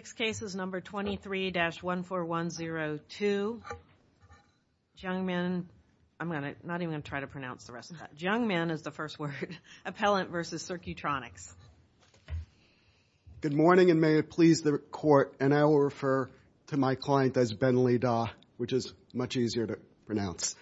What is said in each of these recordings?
Good morning and may it please the Court, and I will refer to my client as Benlida, which is much easier to pronounce.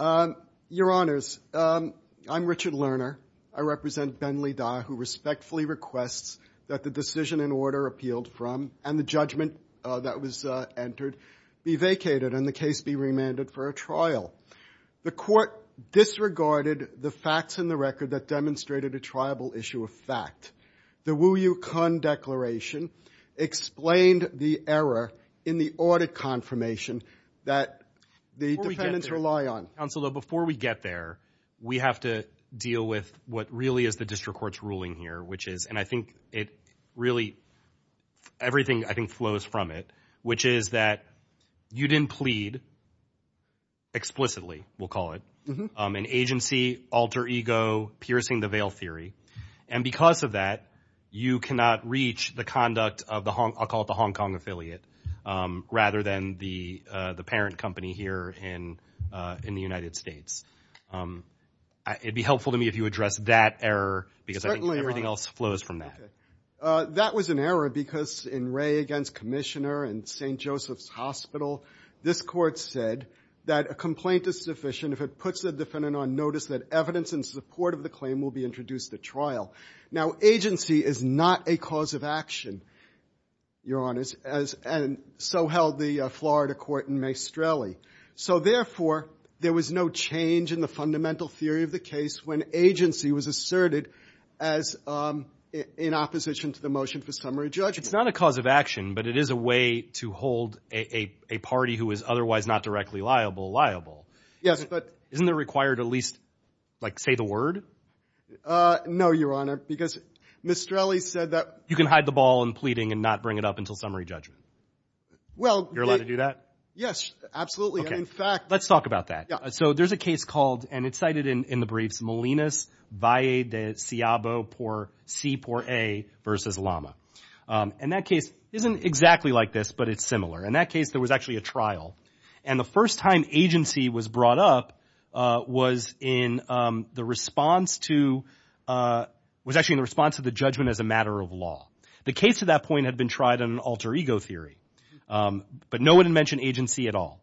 Your Honors, I'm Richard Lerner. I represent Benlida, who respectfully requests that the decision and order appealed from and the judgment that was entered be vacated and the case be remanded for a trial. The Court disregarded the facts in the record that demonstrated a triable issue of fact. The Wu Yu Kun declaration explained the error in the audit confirmation that the defendants rely on. Before we get there, we have to deal with what really is the District Court's ruling here, which is, and I think it really, everything I think flows from it, which is that you didn't plead explicitly, we'll call it, an agency, alter ego, piercing the veil theory, and because of that, you cannot reach the conduct of the Hong, I'll call it the Hong Kong affiliate, rather than the parent company here in the United States. It'd be helpful to me if you address that error, because I think everybody's going to agree that everything else flows from that. That was an error because in Ray against Commissioner and St. Joseph's Hospital, this Court said that a complaint is sufficient if it puts the defendant on notice that evidence in support of the claim will be introduced at trial. Now agency is not a cause of action, Your Honors, and so held the Florida Court in Maestrelli. So therefore, there was no change in the fundamental theory of the case when agency was asserted as in opposition to the motion for summary judgment. It's not a cause of action, but it is a way to hold a party who is otherwise not directly liable liable. Yes, but... Isn't it required at least, like, say the word? No, Your Honor, because Maestrelli said that... You can hide the ball in pleading and not bring it up until summary judgment. Well... You're allowed to do that? Yes, absolutely. And in fact... Let's talk about that. So there's a case called, and it's cited in the briefs, Molinas, Valle de Seabo por C por A versus Lama. And that case isn't exactly like this, but it's similar. In that case, there was actually a trial. And the first time agency was brought up was in the response to... Was actually in response to the judgment as a matter of law. The case at that point had been tried on an alter ego theory, but no one had mentioned agency at all.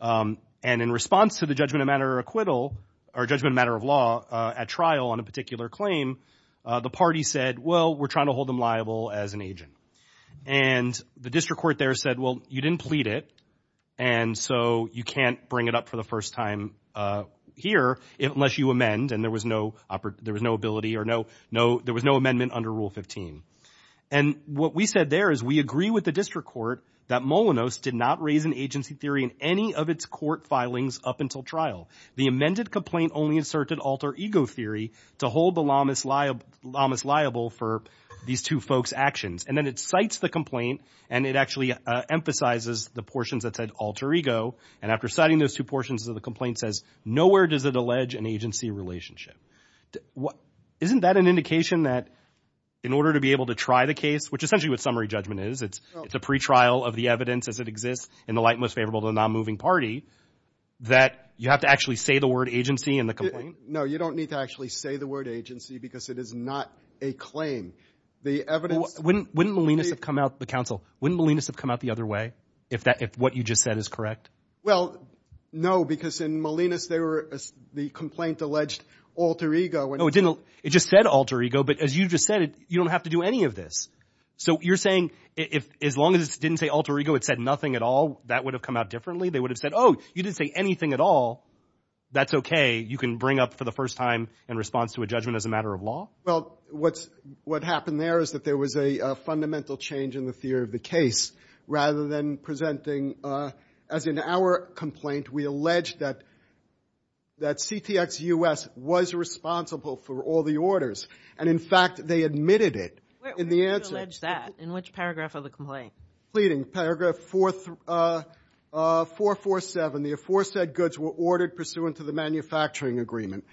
And in response to the judgment of matter of acquittal, or judgment matter of law at trial on a particular claim, the party said, well, we're trying to hold them liable as an agent. And the district court there said, well, you didn't plead it. And so you can't bring it up for the first time here unless you amend. And there was no ability or no... There was no amendment under Rule 15. And what we said there is we agree with the district court that Molinos did not raise an agency theory in any of its court filings up until trial. The amended complaint only inserted alter ego theory to hold the Lamas liable for these two folks' actions. And then it cites the complaint, and it actually emphasizes the portions that said alter ego. And after citing those two portions of the complaint says, nowhere does it allege an agency relationship. Isn't that an indication that in order to be able to try the case, which essentially what summary judgment is, it's a pretrial of the evidence as it exists in the light most favorable to the non-moving party, that you have to actually say the word agency in the complaint? No, you don't need to actually say the word agency because it is not a claim. The evidence... Wouldn't Molinos have come out... The counsel. Wouldn't Molinos have come out the other way if what you just said is correct? Well, no, because in Molinos, the complaint alleged alter ego. No, it didn't. It just said alter ego. But as you just said, you don't have to do any of this. So you're saying as long as it didn't say alter ego, it said nothing at all, that would have come out differently. They would have said, oh, you didn't say anything at all. That's okay. You can bring up for the first time in response to a judgment as a matter of law. Well, what's... What happened there is that there was a fundamental change in the theory of the case, rather than presenting... As in our complaint, we allege that CTX-US was responsible for all the orders. And in fact, they admitted it. In the answer... Where did you allege that? In which paragraph of the complaint? Pleading. Paragraph 447. The aforesaid goods were ordered pursuant to the manufacturing agreement.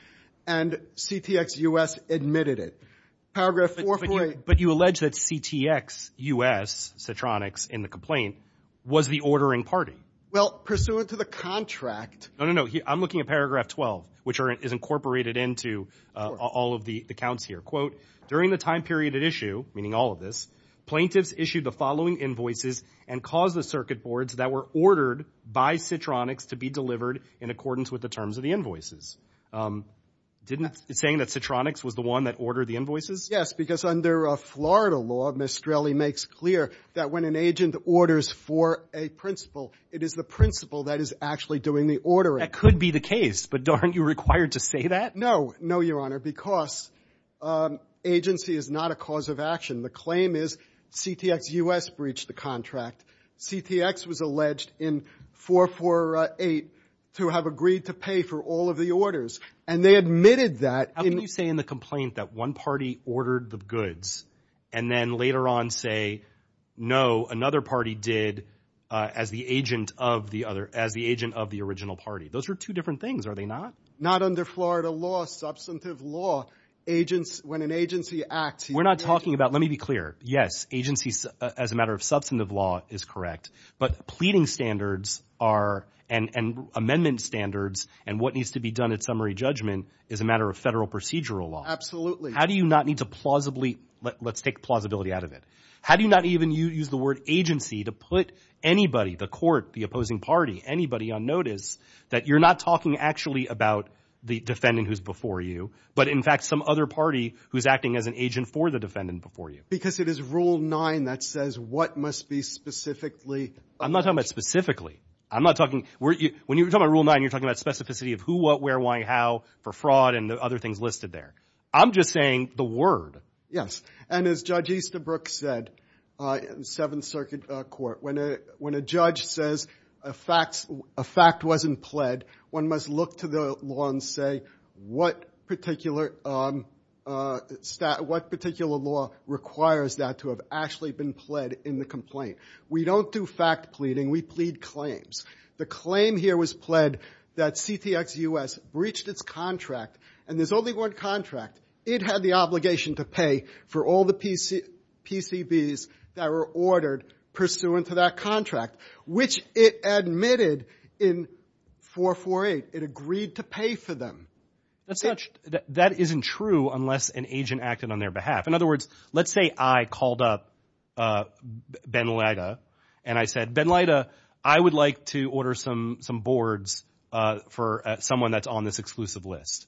And CTX-US admitted it. Paragraph 448... But you allege that CTX-US, Citronics, in the complaint was the ordering party. Well, pursuant to the contract... No, no, no. I'm looking at paragraph 12, which is incorporated into all of the accounts here. During the time period at issue, meaning all of this, plaintiffs issued the following invoices and caused the circuit boards that were ordered by Citronics to be delivered in accordance with the terms of the invoices. Didn't... Saying that Citronics was the one that ordered the invoices? Yes, because under Florida law, Mistrelli makes clear that when an agent orders for a principal, it is the principal that is actually doing the ordering. That could be the case, but darn, you're required to say that? No, no, Your Honor, because agency is not a cause of action. The claim is CTX-US breached the contract. CTX was alleged in 448 to have agreed to pay for all of the orders. And they admitted that... How can you say in the complaint that one party ordered the goods and then later on say, no, another party did as the agent of the other... As the agent of the original party. Those are two different things, are they not? Not under Florida law, substantive law, agents... When an agency acts... We're not talking about... Let me be clear. Yes, agency as a matter of substantive law is correct, but pleading standards are... And amendment standards and what needs to be done at summary judgment is a matter of federal procedural law. How do you not need to plausibly... Let's take plausibility out of it. How do you not even use the word agency to put anybody, the court, the opposing party, anybody on notice, that you're not talking actually about the defendant who's before you, but in fact, some other party who's acting as an agent for the defendant before you? Because it is rule nine that says what must be specifically... I'm not talking about specifically. I'm not talking... When you're talking about rule nine, you're talking about specificity of who, what, where, why, how, for fraud and the other things listed there. I'm just saying the word. Yes. And as Judge Easterbrook said in Seventh Circuit Court, when a judge says a fact wasn't pled, one must look to the law and say what particular law requires that to have actually been pled in the complaint. We don't do fact pleading. We plead claims. The claim here was pled that CTX-US breached its contract, and there's only one contract. It had the obligation to pay for all the PCBs that were ordered pursuant to that contract, which it admitted in 448. It agreed to pay for them. That isn't true unless an agent acted on their behalf. In other words, let's say I called up Ben Lida, and I said, Ben Lida, I would like to order some boards for someone that's on this exclusive list.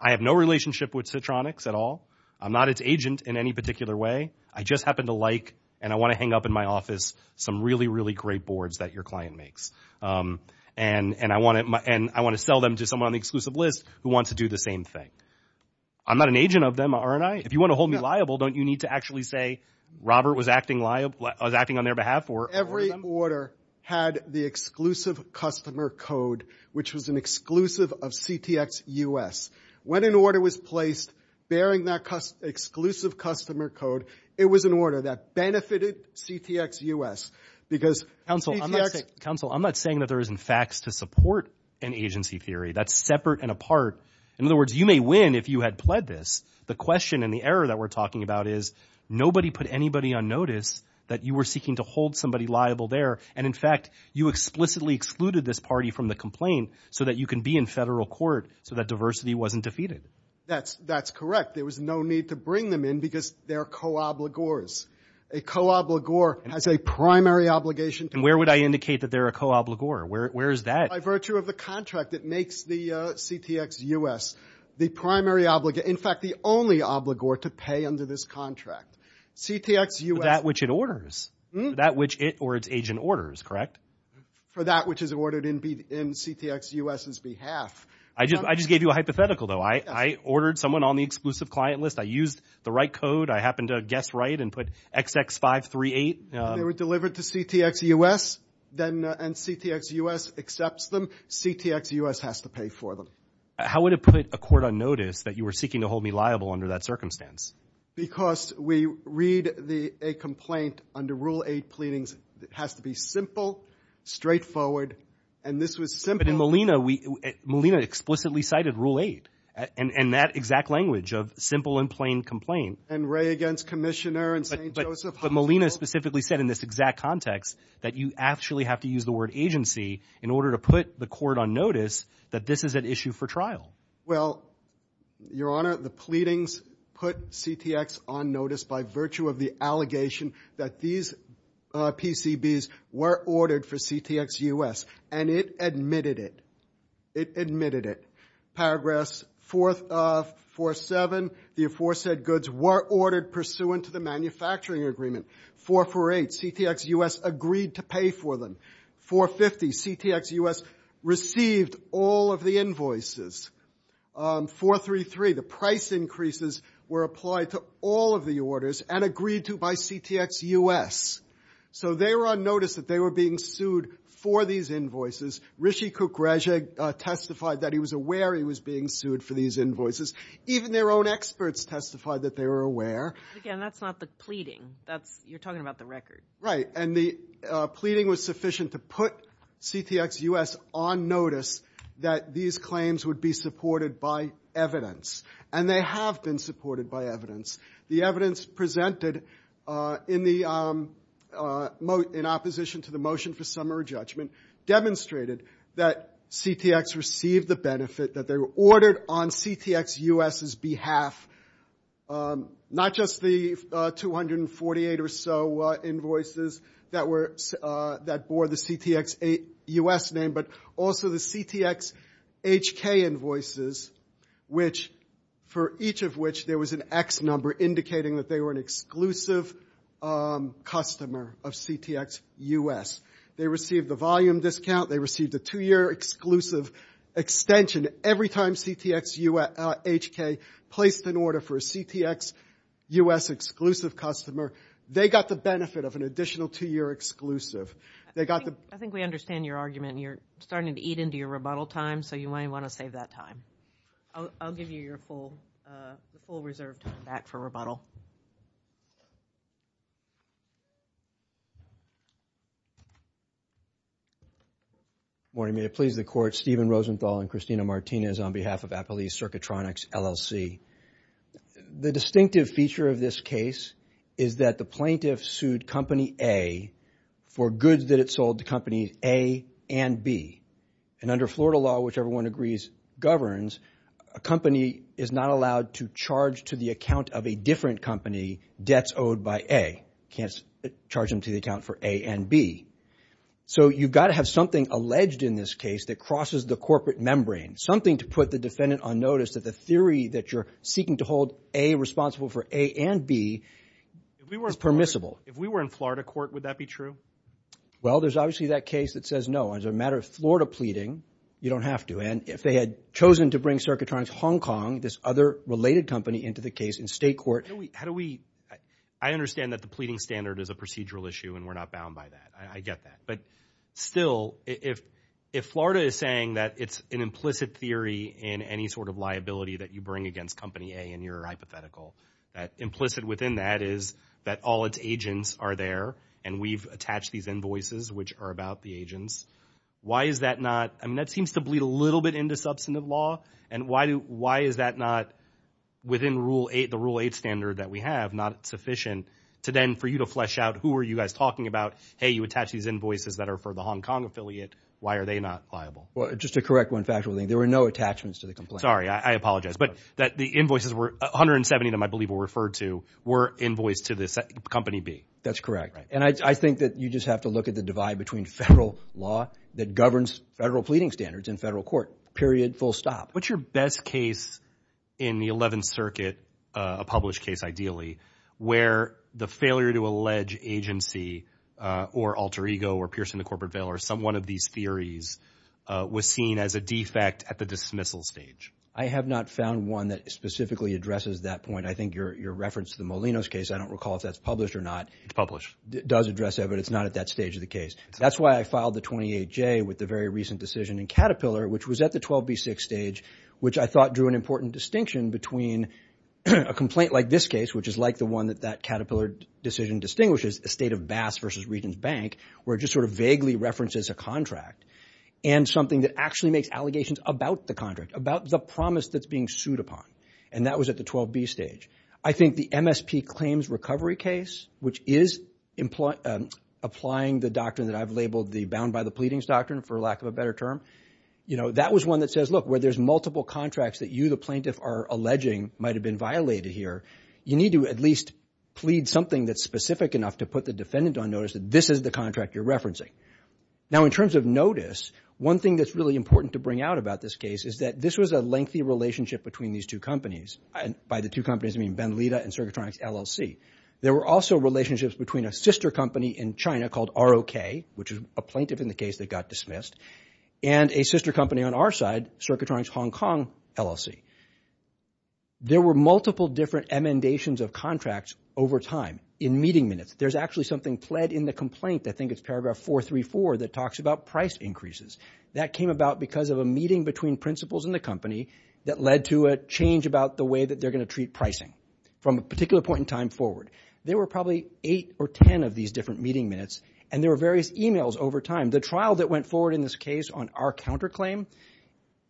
I have no relationship with Citronix at all. I'm not its agent in any particular way. I just happen to like, and I want to hang up in my office, some really, really great boards that your client makes. And I want to sell them to someone on the exclusive list who wants to do the same thing. I'm not an agent of them, aren't I? If you want to hold me liable, don't you need to actually say, Robert was acting on their behalf? Every order had the exclusive customer code, which was an exclusive of CTX-US. When an order was placed bearing that exclusive customer code, it was an order that benefited CTX-US, because CTX- Counsel, I'm not saying that there isn't facts to support an agency theory. That's separate and apart. In other words, you may win if you had pled this. The question and the error that we're talking about is nobody put anybody on notice that you were seeking to hold somebody liable there. And in fact, you explicitly excluded this party from the complaint so that you can be in federal court so that diversity wasn't defeated. That's correct. There was no need to bring them in because they're co-obligors. A co-obligor has a primary obligation to- And where would I indicate that they're a co-obligor? Where is that? By virtue of the contract that makes the CTX-US the primary obliga- In fact, the only obligor to pay under this contract. CTX-US- That which it orders. That which it or its agent orders, correct? For that which is ordered in CTX-US's behalf. I just gave you a hypothetical though. I ordered someone on the exclusive client list. I used the right code. I happened to guess right and put XX538. They were delivered to CTX-US, and CTX-US accepts them. CTX-US has to pay for them. How would it put a court on notice that you were seeking to hold me liable under that circumstance? Because we read a complaint under Rule 8 pleadings. It has to be simple, straightforward. And this was simple- But in Molina, Molina explicitly cited Rule 8 and that exact language of simple and plain complaint. And Wray against Commissioner and St. Joseph Hospital. But Molina specifically said in this exact context that you actually have to use the word agency in order to put the court on notice that this is an issue for trial. Well, Your Honor, the pleadings put CTX on notice by virtue of the allegation that these PCBs were ordered for CTX-US, and it admitted it. It admitted it. Paragraphs 447, the aforesaid goods were ordered pursuant to the manufacturing agreement. 448, CTX-US agreed to pay for them. 450, CTX-US received all of the invoices. 433, the price increases were applied to all of the orders and agreed to by CTX-US. So they were on notice that they were being sued for these invoices. Rishi Kukreja testified that he was aware he was being sued for these invoices. Even their own experts testified that they were aware. Again, that's not the pleading. That's, you're talking about the record. Right. And the pleading was sufficient to put CTX-US on notice that these claims would be supported by evidence. And they have been supported by evidence. The evidence presented in opposition to the motion for summary judgment demonstrated that CTX received the benefit that they were ordered on CTX-US's behalf. Not just the 248 or so invoices that were, that bore the CTX-US name, but also the CTX-HK invoices, which for each of which there was an X number indicating that they were an exclusive customer of CTX-US. They received the volume discount. They received a two-year exclusive extension. Every time CTX-HK placed an order for a CTX-US exclusive customer, they got the benefit of an additional two-year exclusive. They got the... I think we understand your argument. You're starting to eat into your rebuttal time, so you might want to save that time. I'll give you your full reserve time back for rebuttal. Good morning. May it please the Court. Stephen Rosenthal and Christina Martinez on behalf of Appalachian Circuitronics, LLC. The distinctive feature of this case is that the plaintiff sued Company A for goods that it sold to Companies A and B. And under Florida law, which everyone agrees governs, a company is not allowed to charge to the account of a different company debts owed by A. Can't charge them to the account for A and B. So you've got to have something alleged in this case that crosses the corporate membrane. Something to put the defendant on notice that the theory that you're seeking to hold A responsible for A and B is permissible. If we were in Florida court, would that be true? Well, there's obviously that case that says no. As a matter of Florida pleading, you don't have to. And if they had chosen to bring Circuitronics Hong Kong, this other related company, into the case in state court... I understand that the pleading standard is a procedural issue and we're not bound by that. I get that. But still, if Florida is saying that it's an implicit theory in any sort of liability that you bring against Company A and you're hypothetical, that implicit within that is that all its agents are there and we've attached these invoices, which are about the agents. Why is that not... I mean, that seems to bleed a little bit into substantive law. And why is that not within the Rule 8 standard that we have not sufficient to then for you to flesh out who are you guys talking about? Hey, you attach these invoices that are for the Hong Kong affiliate. Why are they not liable? Well, just to correct one factual thing, there were no attachments to the complaint. Sorry, I apologize. But that the invoices were... 170 of them, I believe, were referred to were invoiced to this Company B. That's correct. And I think that you just have to look at the divide between federal law that governs federal pleading standards and federal court, period, full stop. What's your best case in the 11th Circuit, a published case, ideally, where the failure to allege agency or alter ego or piercing the corporate veil or some one of these theories was seen as a defect at the dismissal stage? I have not found one that specifically addresses that point. I think your reference to the Molinos case, I don't recall if that's published or not. It does address that, but it's not at that stage of the case. That's why I filed the 28J with the very recent decision in Caterpillar, which was at the 12B6 stage, which I thought drew an important distinction between a complaint like this case, which is like the one that that Caterpillar decision distinguishes, a state of Bass versus Regents Bank, where it just sort of vaguely references a contract and something that actually makes allegations about the contract, about the promise that's being sued upon. And that was at the 12B stage. I think the MSP claims recovery case, which is applying the doctrine that I've labeled the bound by the pleadings doctrine, for lack of a better term, that was one that says, look, where there's multiple contracts that you, the plaintiff, are alleging might have been violated here, you need to at least plead something that's specific enough to put the defendant on notice that this is the contract you're referencing. Now, in terms of notice, one thing that's really important to bring out about this case is that this was a lengthy relationship between these two companies. By the two companies, I mean Benlita and Circuitronics LLC. There were also relationships between a sister company in China called ROK, which is a plaintiff in the case that got dismissed, and a sister company on our side, Circuitronics Hong Kong LLC. There were multiple different amendations of contracts over time in meeting minutes. There's actually something pled in the complaint, I think it's paragraph 434, that talks about price increases. That came about because of a meeting between principals in the company that led to a change about the way that they're going to treat pricing from a particular point in time forward. There were probably eight or 10 of these different meeting minutes, and there were various emails over time. The trial that went forward in this case on our counterclaim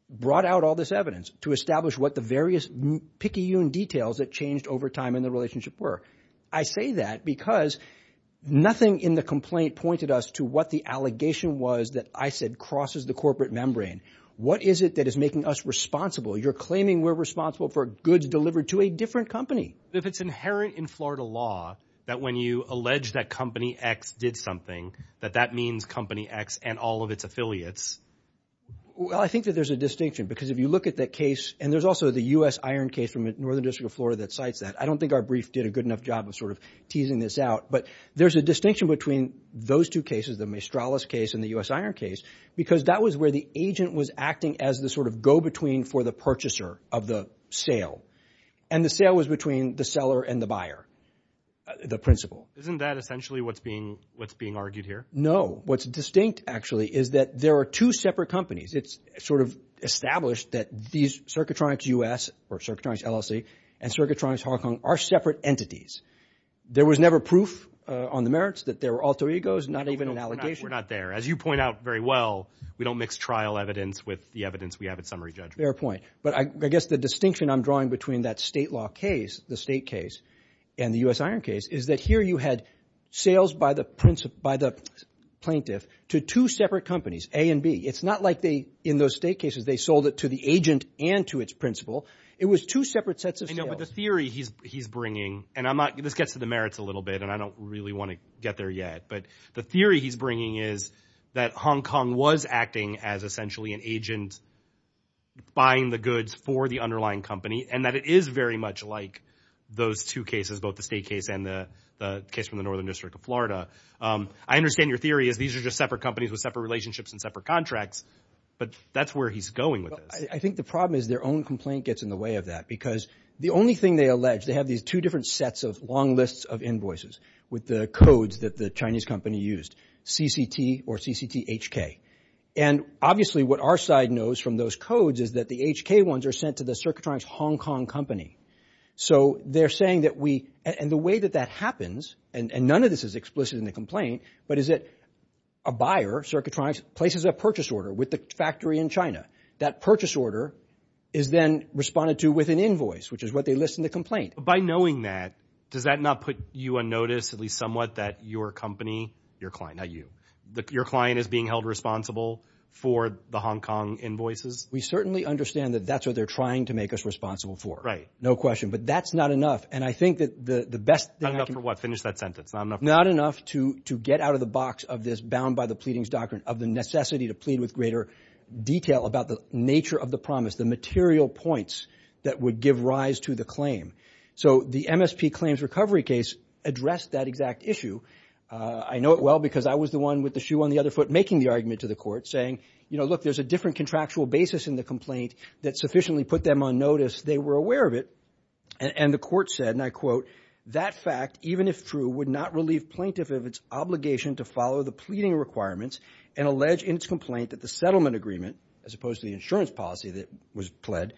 brought out all this evidence to establish what the various picayune details that changed over time in the relationship were. I say that because nothing in the complaint pointed us to what the allegation was that I said crosses the corporate membrane. What is it that is making us responsible? You're claiming we're responsible for goods delivered to a different company. If it's inherent in Florida law that when you allege that company X did something, that that means company X and all of its affiliates. Well, I think that there's a distinction because if you look at that case, and there's also the U.S. Iron case from the Northern District of Florida that cites that. I don't think our brief did a good enough job of sort of teasing this out, but there's a distinction between those two cases, the Maestralis case and the U.S. Iron case, because that was where the agent was acting as the sort of go-between for the purchaser of the sale, and the sale was between the seller and the buyer, the principal. Isn't that essentially what's being argued here? No. What's distinct, actually, is that there are two separate companies. It's sort of established that these circuitronics U.S., or circuitronics LLC, and circuitronics Hong Kong are separate entities. There was never proof on the merits that there were alter egos, not even an allegation. We're not there. As you point out very well, we don't mix trial evidence with the evidence we have at summary judgment. Fair point. But I guess the distinction I'm drawing between that state law case, the state case, and the U.S. Iron case, is that here you had sales by the plaintiff to two separate companies, A and B. It's not like in those state cases, they sold it to the agent and to its principal. It was two separate sets of sales. I know, but the theory he's bringing, and this gets to the merits a little bit, and I don't really want to get there yet, but the theory he's bringing is that Hong Kong was acting as essentially an agent buying the goods for the underlying company, and that it is very much like those two cases, both the state case and the case from the Northern District of Florida. I understand your theory is these are just separate companies with separate relationships and separate contracts, but that's where he's going with this. I think the problem is their own complaint gets in the way of that, because the only thing they allege, they have these two different sets of long lists of invoices with the codes that the Chinese company used, CCT or CCT-HK. And obviously what our side knows from those codes is that the HK ones are sent to the circuitronics Hong Kong company. So they're saying that we, and the way that that happens, and none of this is explicit in the complaint, but is that a buyer, circuitronics places a purchase order with the factory in China. That purchase order is then responded to with an invoice, which is what they list in the complaint. But by knowing that, does that not put you on notice, at least somewhat that your company, your client, not you, your client is being held responsible for the Hong Kong invoices? We certainly understand that that's what they're trying to make us responsible for. No question, but that's not enough. And I think that the best thing... Not enough for what? Finish that sentence. Not enough to get out of the box of this bound by the pleadings doctrine of the necessity to plead with greater detail about the nature of the promise, the material points that would give rise to the claim. So the MSP claims recovery case addressed that exact issue. I know it well, because I was the one with the shoe on the other foot, making the argument to the court saying, you know, look, there's a different contractual basis in the complaint that sufficiently put them on notice. They were aware of it. And the court said, and I quote, that fact, even if true, would not relieve plaintiff of its obligation to follow the pleading requirements and allege in its complaint that the settlement agreement, as opposed to the insurance policy that was pled,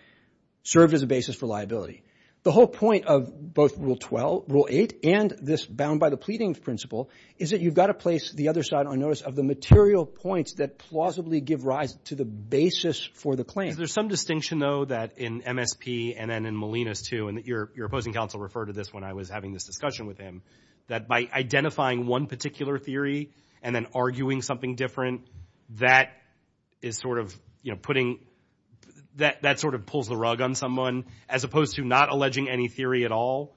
served as a basis for liability. The whole point of both rule 12, rule 8, and this bound by the pleading principle is that you've got to place the other side on notice of the material points that plausibly give rise to the basis for the claim. Is there some distinction, though, that in MSP and then in Molinas too, and that your opposing counsel referred to this when I was having this discussion with him, that by identifying one particular theory and then arguing something different, that is sort of, you know, putting, that sort of pulls the rug on someone as opposed to not alleging any theory at all,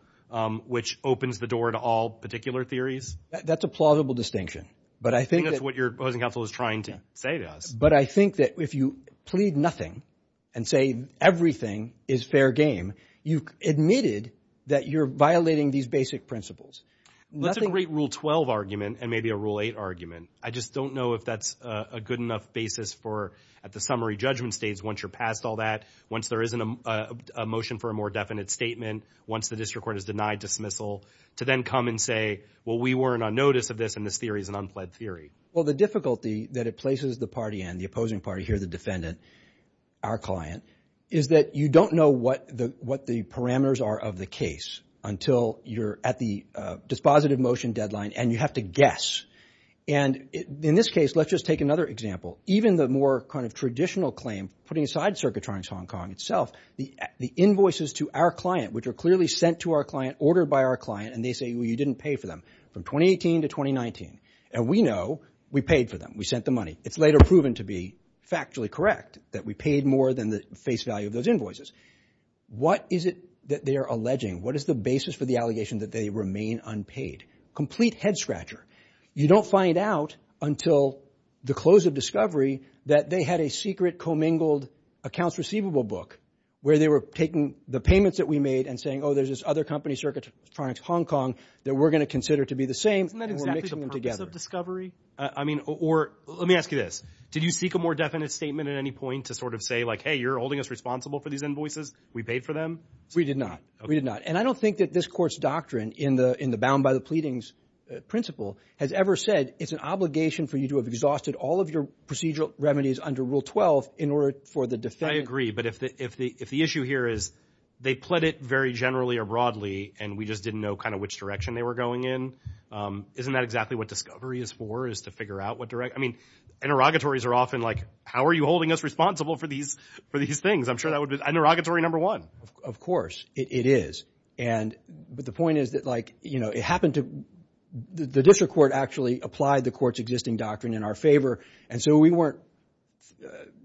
which opens the door to all particular theories? That's a plausible distinction. But I think that's what your opposing counsel is trying to say to us. But I think that if you plead nothing and say everything is fair game, you've admitted that you're violating these basic principles. That's a great rule 12 argument and maybe a rule 8 argument. I just don't know if that's a good enough basis for at the summary judgment states once you're past all that, once there isn't a motion for a more definite statement, once the district court is denied dismissal to then come and say, well, we weren't on notice of this and this theory is an unpled theory. Well, the difficulty that it places the party and the opposing party here, the defendant, our client, is that you don't know what the parameters are of the case until you're at the dispositive motion deadline and you have to guess. And in this case, let's just take another example. Even the more kind of traditional claim putting aside circuitronics Hong Kong itself, the invoices to our client, which are clearly sent to our client, ordered by our client, and they say, well, you didn't pay for them from 2018 to 2019. And we know we paid for them. We sent the money. It's later proven to be factually correct that we paid more than the face value of those invoices. What is it that they are alleging? What is the basis for the allegation that they remain unpaid? Complete head scratcher. You don't find out until the close of discovery that they had a secret commingled accounts receivable book where they were taking the payments that we made and saying, oh, there's this other company, circuitronics Hong Kong that we're going to consider to be the same. Isn't that exactly the purpose of discovery? I mean, or let me ask you this. Did you seek a more definite statement at any point to sort of say like, hey, you're holding us responsible for these invoices. We paid for them. We did not. We did not. And I don't think that this court's doctrine in the bound by the pleadings principle has ever said it's an obligation for you to have exhausted all of your procedural remedies under Rule 12 in order for the defendant. I agree. But if the issue here is they pled it very generally or broadly and we just didn't know kind of which direction they were going in. Isn't that exactly what discovery is for is to figure out what direct? I mean, interrogatories are often like, how are you holding us responsible for these things? I'm sure that would be interrogatory number one. Of course it is. And the point is that like, you know, it happened to the district court actually applied the court's existing doctrine in our favor. And so we weren't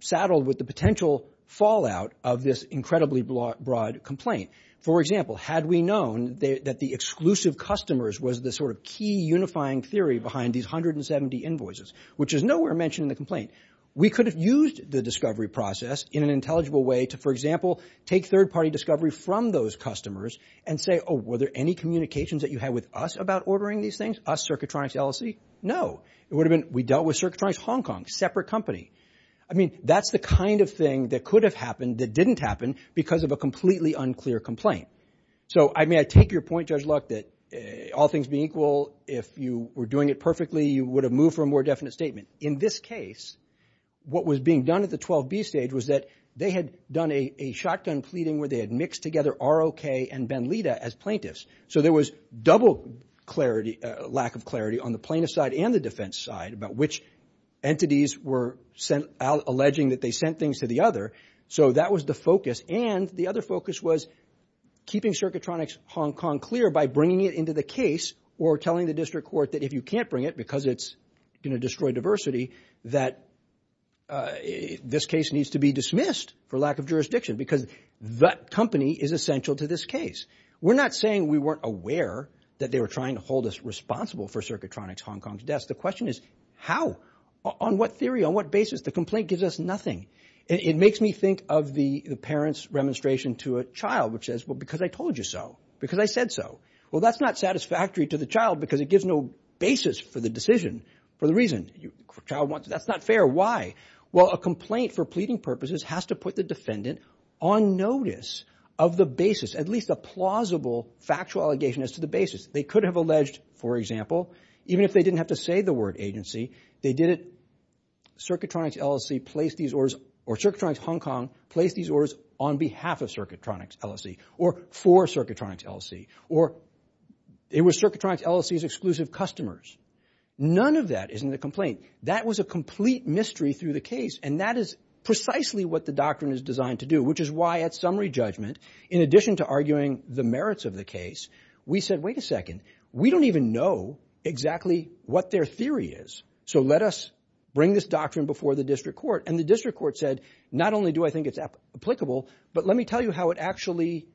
saddled with the potential fallout of this incredibly broad complaint. For example, had we known that the exclusive customers was the sort of key unifying theory behind these 170 invoices, which is nowhere mentioned in the complaint, we could have used the discovery process in an intelligible way to, for example, take third party discovery from those customers and say, oh, were there any communications that you had with us about ordering these things? Us, Circuitronics LLC? No. It would have been, we dealt with Circuitronics Hong Kong, separate company. I mean, that's the kind of thing that could have happened that didn't happen because of a completely unclear complaint. So I mean, I take your point, Judge Luck, that all things being equal, if you were doing it perfectly, you would have moved for a more definite statement. In this case, what was being done at the 12B stage was that they had done a shotgun pleading where they had mixed together ROK and Ben Lita as plaintiffs. So there was double clarity, lack of clarity on the plaintiff side and the defense side about which entities were sent out alleging that they sent things to the other. So that was the focus. And the other focus was keeping Circuitronics Hong Kong clear by bringing it into the case or telling the district court that if you can't bring it because it's going to destroy diversity, that this case needs to be dismissed for lack of jurisdiction, because that company is essential to this case. We're not saying we weren't aware that they were trying to hold us responsible for Circuitronics Hong Kong's deaths. The question is how? On what theory? On what basis? The complaint gives us nothing. It makes me think of the parents' remonstration to a child, which says, well, because I told you so, because I said so. Well, that's not satisfactory to the child because it gives no basis for the decision for the reason. That's not fair. Why? Well, a complaint for pleading purposes has to put the defendant on notice of the basis, at least a plausible factual allegation as to the basis. They could have alleged, for example, even if they didn't have to say the word agency, they did it. Circuitronics LLC placed these orders or Circuitronics Hong Kong placed these orders on behalf of Circuitronics LLC or for Circuitronics LLC or it was Circuitronics LLC's exclusive customers. None of that is in the complaint. That was a complete mystery through the case. And that is precisely what the doctrine is designed to do, which is why at summary judgment, in addition to arguing the merits of the case, we said, wait a second, we don't even know exactly what their theory is. So let us bring this doctrine before the district court. And the district court said, not only do I think it's applicable, but let me tell you how it actually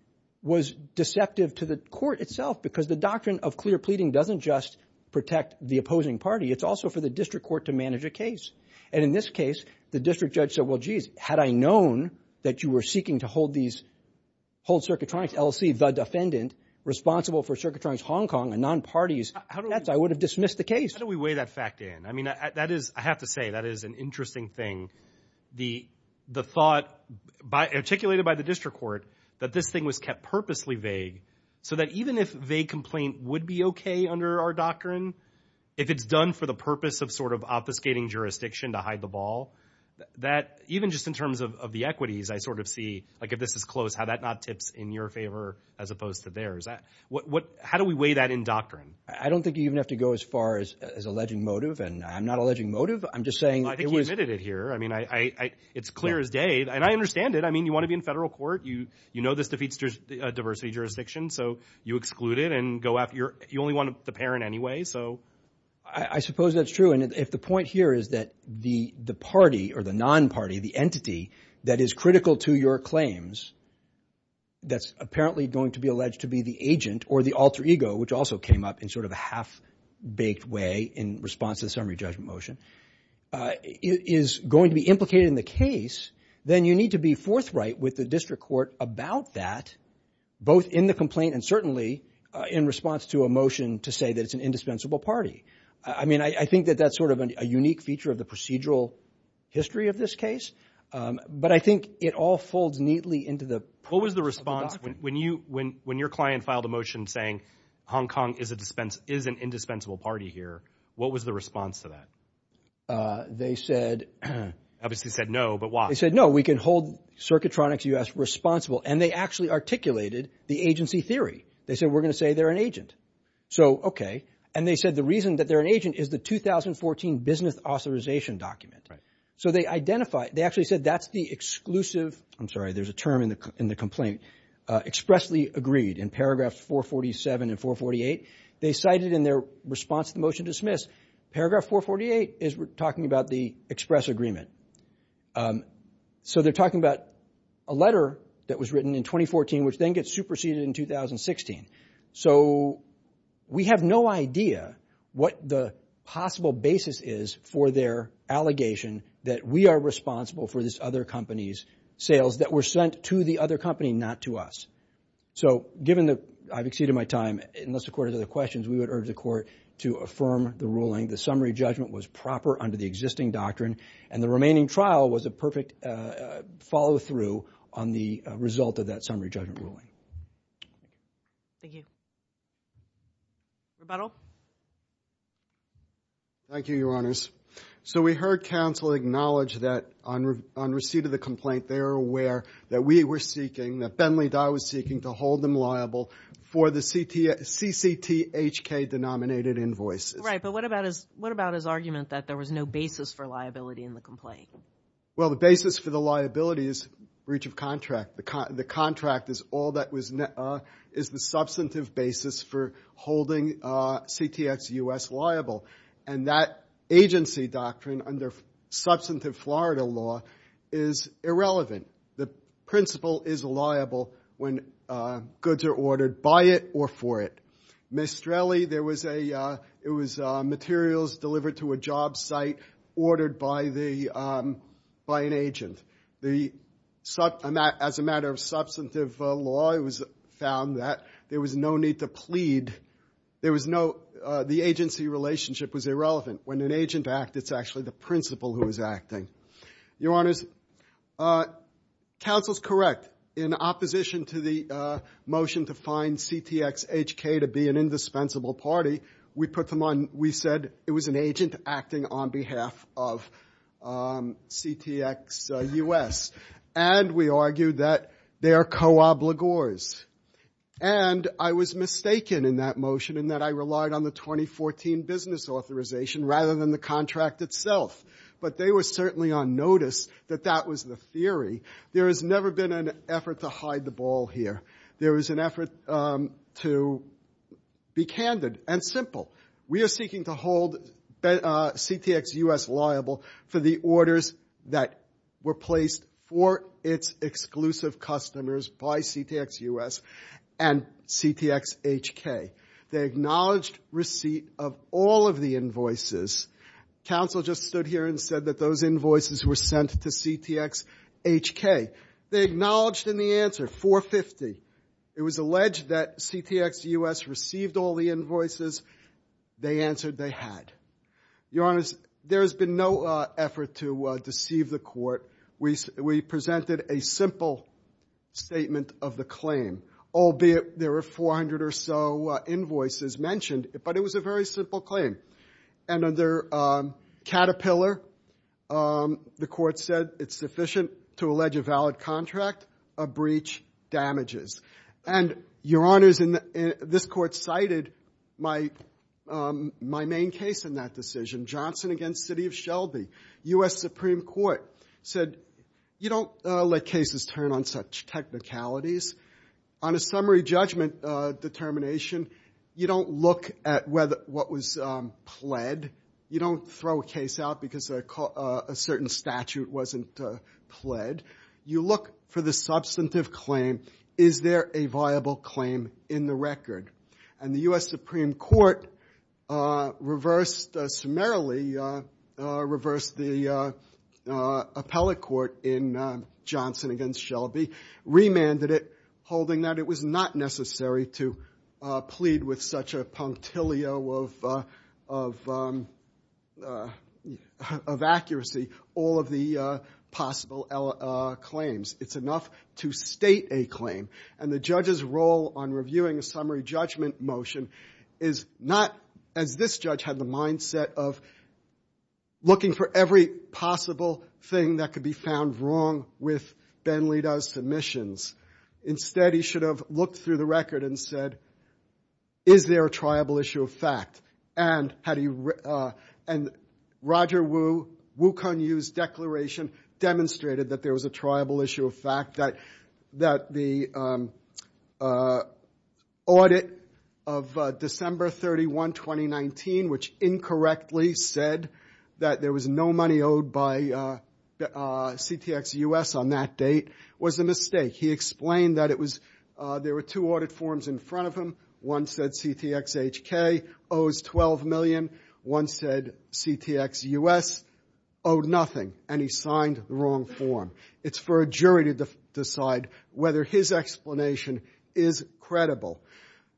was deceptive to the court itself, because the doctrine of clear pleading doesn't just protect the opposing party. It's also for the district court to manage a case. And in this case, the district judge said, well, geez, had I known that you were seeking to hold Circuitronics LLC, the defendant responsible for Circuitronics Hong Kong and non-parties, I would have dismissed the case. How do we weigh that fact in? I mean, that is, I have to say, that is an interesting thing. The thought articulated by the district court that this thing was kept purposely vague, so that even if vague complaint would be OK under our doctrine, if it's done for the purpose of sort of obfuscating jurisdiction to hide the ball, that even just in terms of the equities, I sort of see like if this is close, how that not tips in your favor as opposed to theirs. How do we weigh that in doctrine? I don't think you even have to go as far as alleging motive. And I'm not alleging motive. I'm just saying. I think you admitted it here. I mean, it's clear as day. And I understand it. I mean, you want to be in federal court. You know this defeats a diversity jurisdiction. So you exclude it and go after your you only want the parent anyway. So I suppose that's true. And if the point here is that the party or the non-party, the entity that is critical to your claims, that's apparently going to be alleged to be the agent or the alter ego, which also came up in sort of a half-baked way in response to the summary judgment motion, is going to be implicated in the case. Then you need to be forthright with the district court about that, both in the complaint and certainly in response to a motion to say that it's an indispensable party. I mean, I think that that's sort of a unique feature of the procedural history of this case. But I think it all folds neatly into the. What was the response when you when when your client filed a motion saying Hong Kong is a dispense is an indispensable party here. What was the response to that? They said. Obviously said no, but why? No, we can hold Circuitronics U.S. responsible. And they actually articulated the agency theory. They said we're going to say they're an agent. So, OK. And they said the reason that they're an agent is the 2014 business authorization document. So they identify they actually said that's the exclusive. I'm sorry, there's a term in the in the complaint expressly agreed in paragraphs 447 and 448. They cited in their response to the motion dismiss paragraph 448 is talking about the express agreement. So they're talking about a letter that was written in 2014, which then gets superseded in 2016. So we have no idea what the possible basis is for their allegation that we are responsible for this other company's sales that were sent to the other company, not to us. So given that I've exceeded my time, unless the court has other questions, we would urge the court to affirm the ruling. The summary judgment was proper under the existing doctrine and the remaining trial was a perfect follow through on the result of that summary judgment ruling. Thank you. Rebuttal. Thank you, Your Honors. So we heard counsel acknowledge that on receipt of the complaint, they are aware that we were seeking that Bentley Dye was seeking to hold them liable for the CCTHK denominated invoices. Right, but what about his argument that there was no basis for liability in the complaint? Well, the basis for the liability is breach of contract. The contract is all that was, is the substantive basis for holding CTX US liable. And that agency doctrine under substantive Florida law is irrelevant. The principle is liable when goods are ordered by it or for it. Mestrelli, there was a, it was materials delivered to a job site ordered by the, by an agent. The, as a matter of substantive law, it was found that there was no need to plead. There was no, the agency relationship was irrelevant. When an agent act, it's actually the principal who is acting. Your Honors, counsel's correct in opposition to the motion to find CTXHK to be an indispensable party. We put them on, we said it was an agent acting on behalf of CTX US. And we argued that they are co-obligors. And I was mistaken in that motion in that I relied on the 2014 business authorization rather than the contract itself. But they were certainly on notice that that was the theory. There has never been an effort to hide the ball here. There was an effort to be candid and simple. We are seeking to hold CTX US liable for the orders that were placed for its exclusive customers by CTX US and CTXHK. They acknowledged receipt of all of the invoices. Counsel just stood here and said that those invoices were sent to CTX HK. They acknowledged in the answer 450. It was alleged that CTX US received all the invoices. They answered they had. Your honors, there has been no effort to deceive the court. We presented a simple statement of the claim, albeit there were 400 or so invoices mentioned, but it was a very simple claim. And under Caterpillar, the court said it's sufficient to allege a valid contract. A breach damages. And your honors, this court cited my main case in that decision, Johnson against City of Shelby. US Supreme Court said, you don't let cases turn on such technicalities. On a summary judgment determination, you don't look at whether what was pled. You don't throw a case out because a certain statute wasn't pled. You look for the substantive claim. Is there a viable claim in the record? And the US Supreme Court reversed, summarily reversed the appellate court in Johnson against Shelby, remanded it, holding that it was not necessary to plead with such a punctilio of accuracy all of the possible claims. It's enough to state a claim. And the judge's role on reviewing a summary judgment motion is not as this judge had the mindset of looking for every possible thing that could be found wrong with Ben Lido's submissions. Instead, he should have looked through the record and said, is there a triable issue of fact? And Roger Wu, Wu Kun-Yu's declaration demonstrated that there was a triable issue of fact, that the audit of December 31, 2019, which incorrectly said that there was no money owed by CTX-US on that date was a mistake. He explained that it was, there were two audit forms in front of him. One said CTX-HK owes 12 million. One said CTX-US owed nothing. And he signed the wrong form. It's for a jury to decide whether his explanation is credible.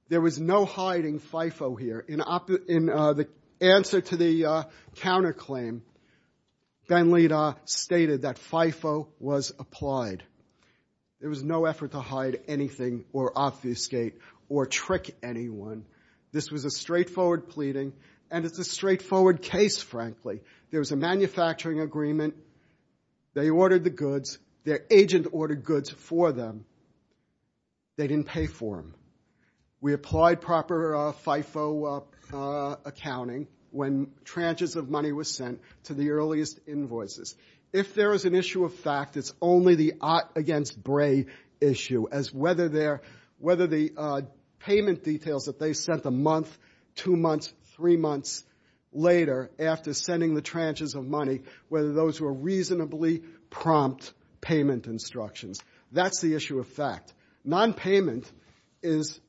There was no hiding FIFO here. In the answer to the counterclaim, Ben Lido stated that FIFO was applied. There was no effort to hide anything or obfuscate or trick anyone. This was a straightforward pleading. And it's a straightforward case, frankly. There was a manufacturing agreement. They ordered the goods. Their agent ordered goods for them. They didn't pay for them. We applied proper FIFO accounting when tranches of money was sent to the earliest invoices. If there is an issue of fact, it's only the Ott against Bray issue as whether the payment details that they sent a month, two months, three months later after sending the tranches of money, whether those were reasonably prompt payment instructions. That's the issue of fact. Nonpayment is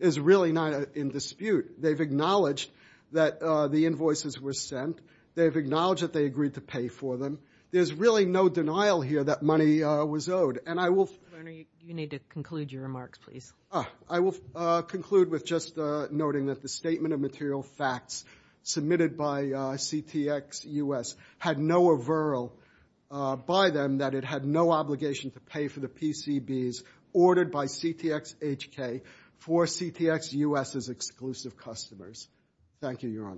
really not in dispute. They've acknowledged that the invoices were sent. They've acknowledged that they agreed to pay for them. There's really no denial here that money was owed. And I will... Governor, you need to conclude your remarks, please. I will conclude with just noting that the statement of material facts submitted by CTX-US had no averral by them that it had no obligation to pay for the PCBs ordered by CTX-HK for CTX-US's exclusive customers. Thank you, Your Honors.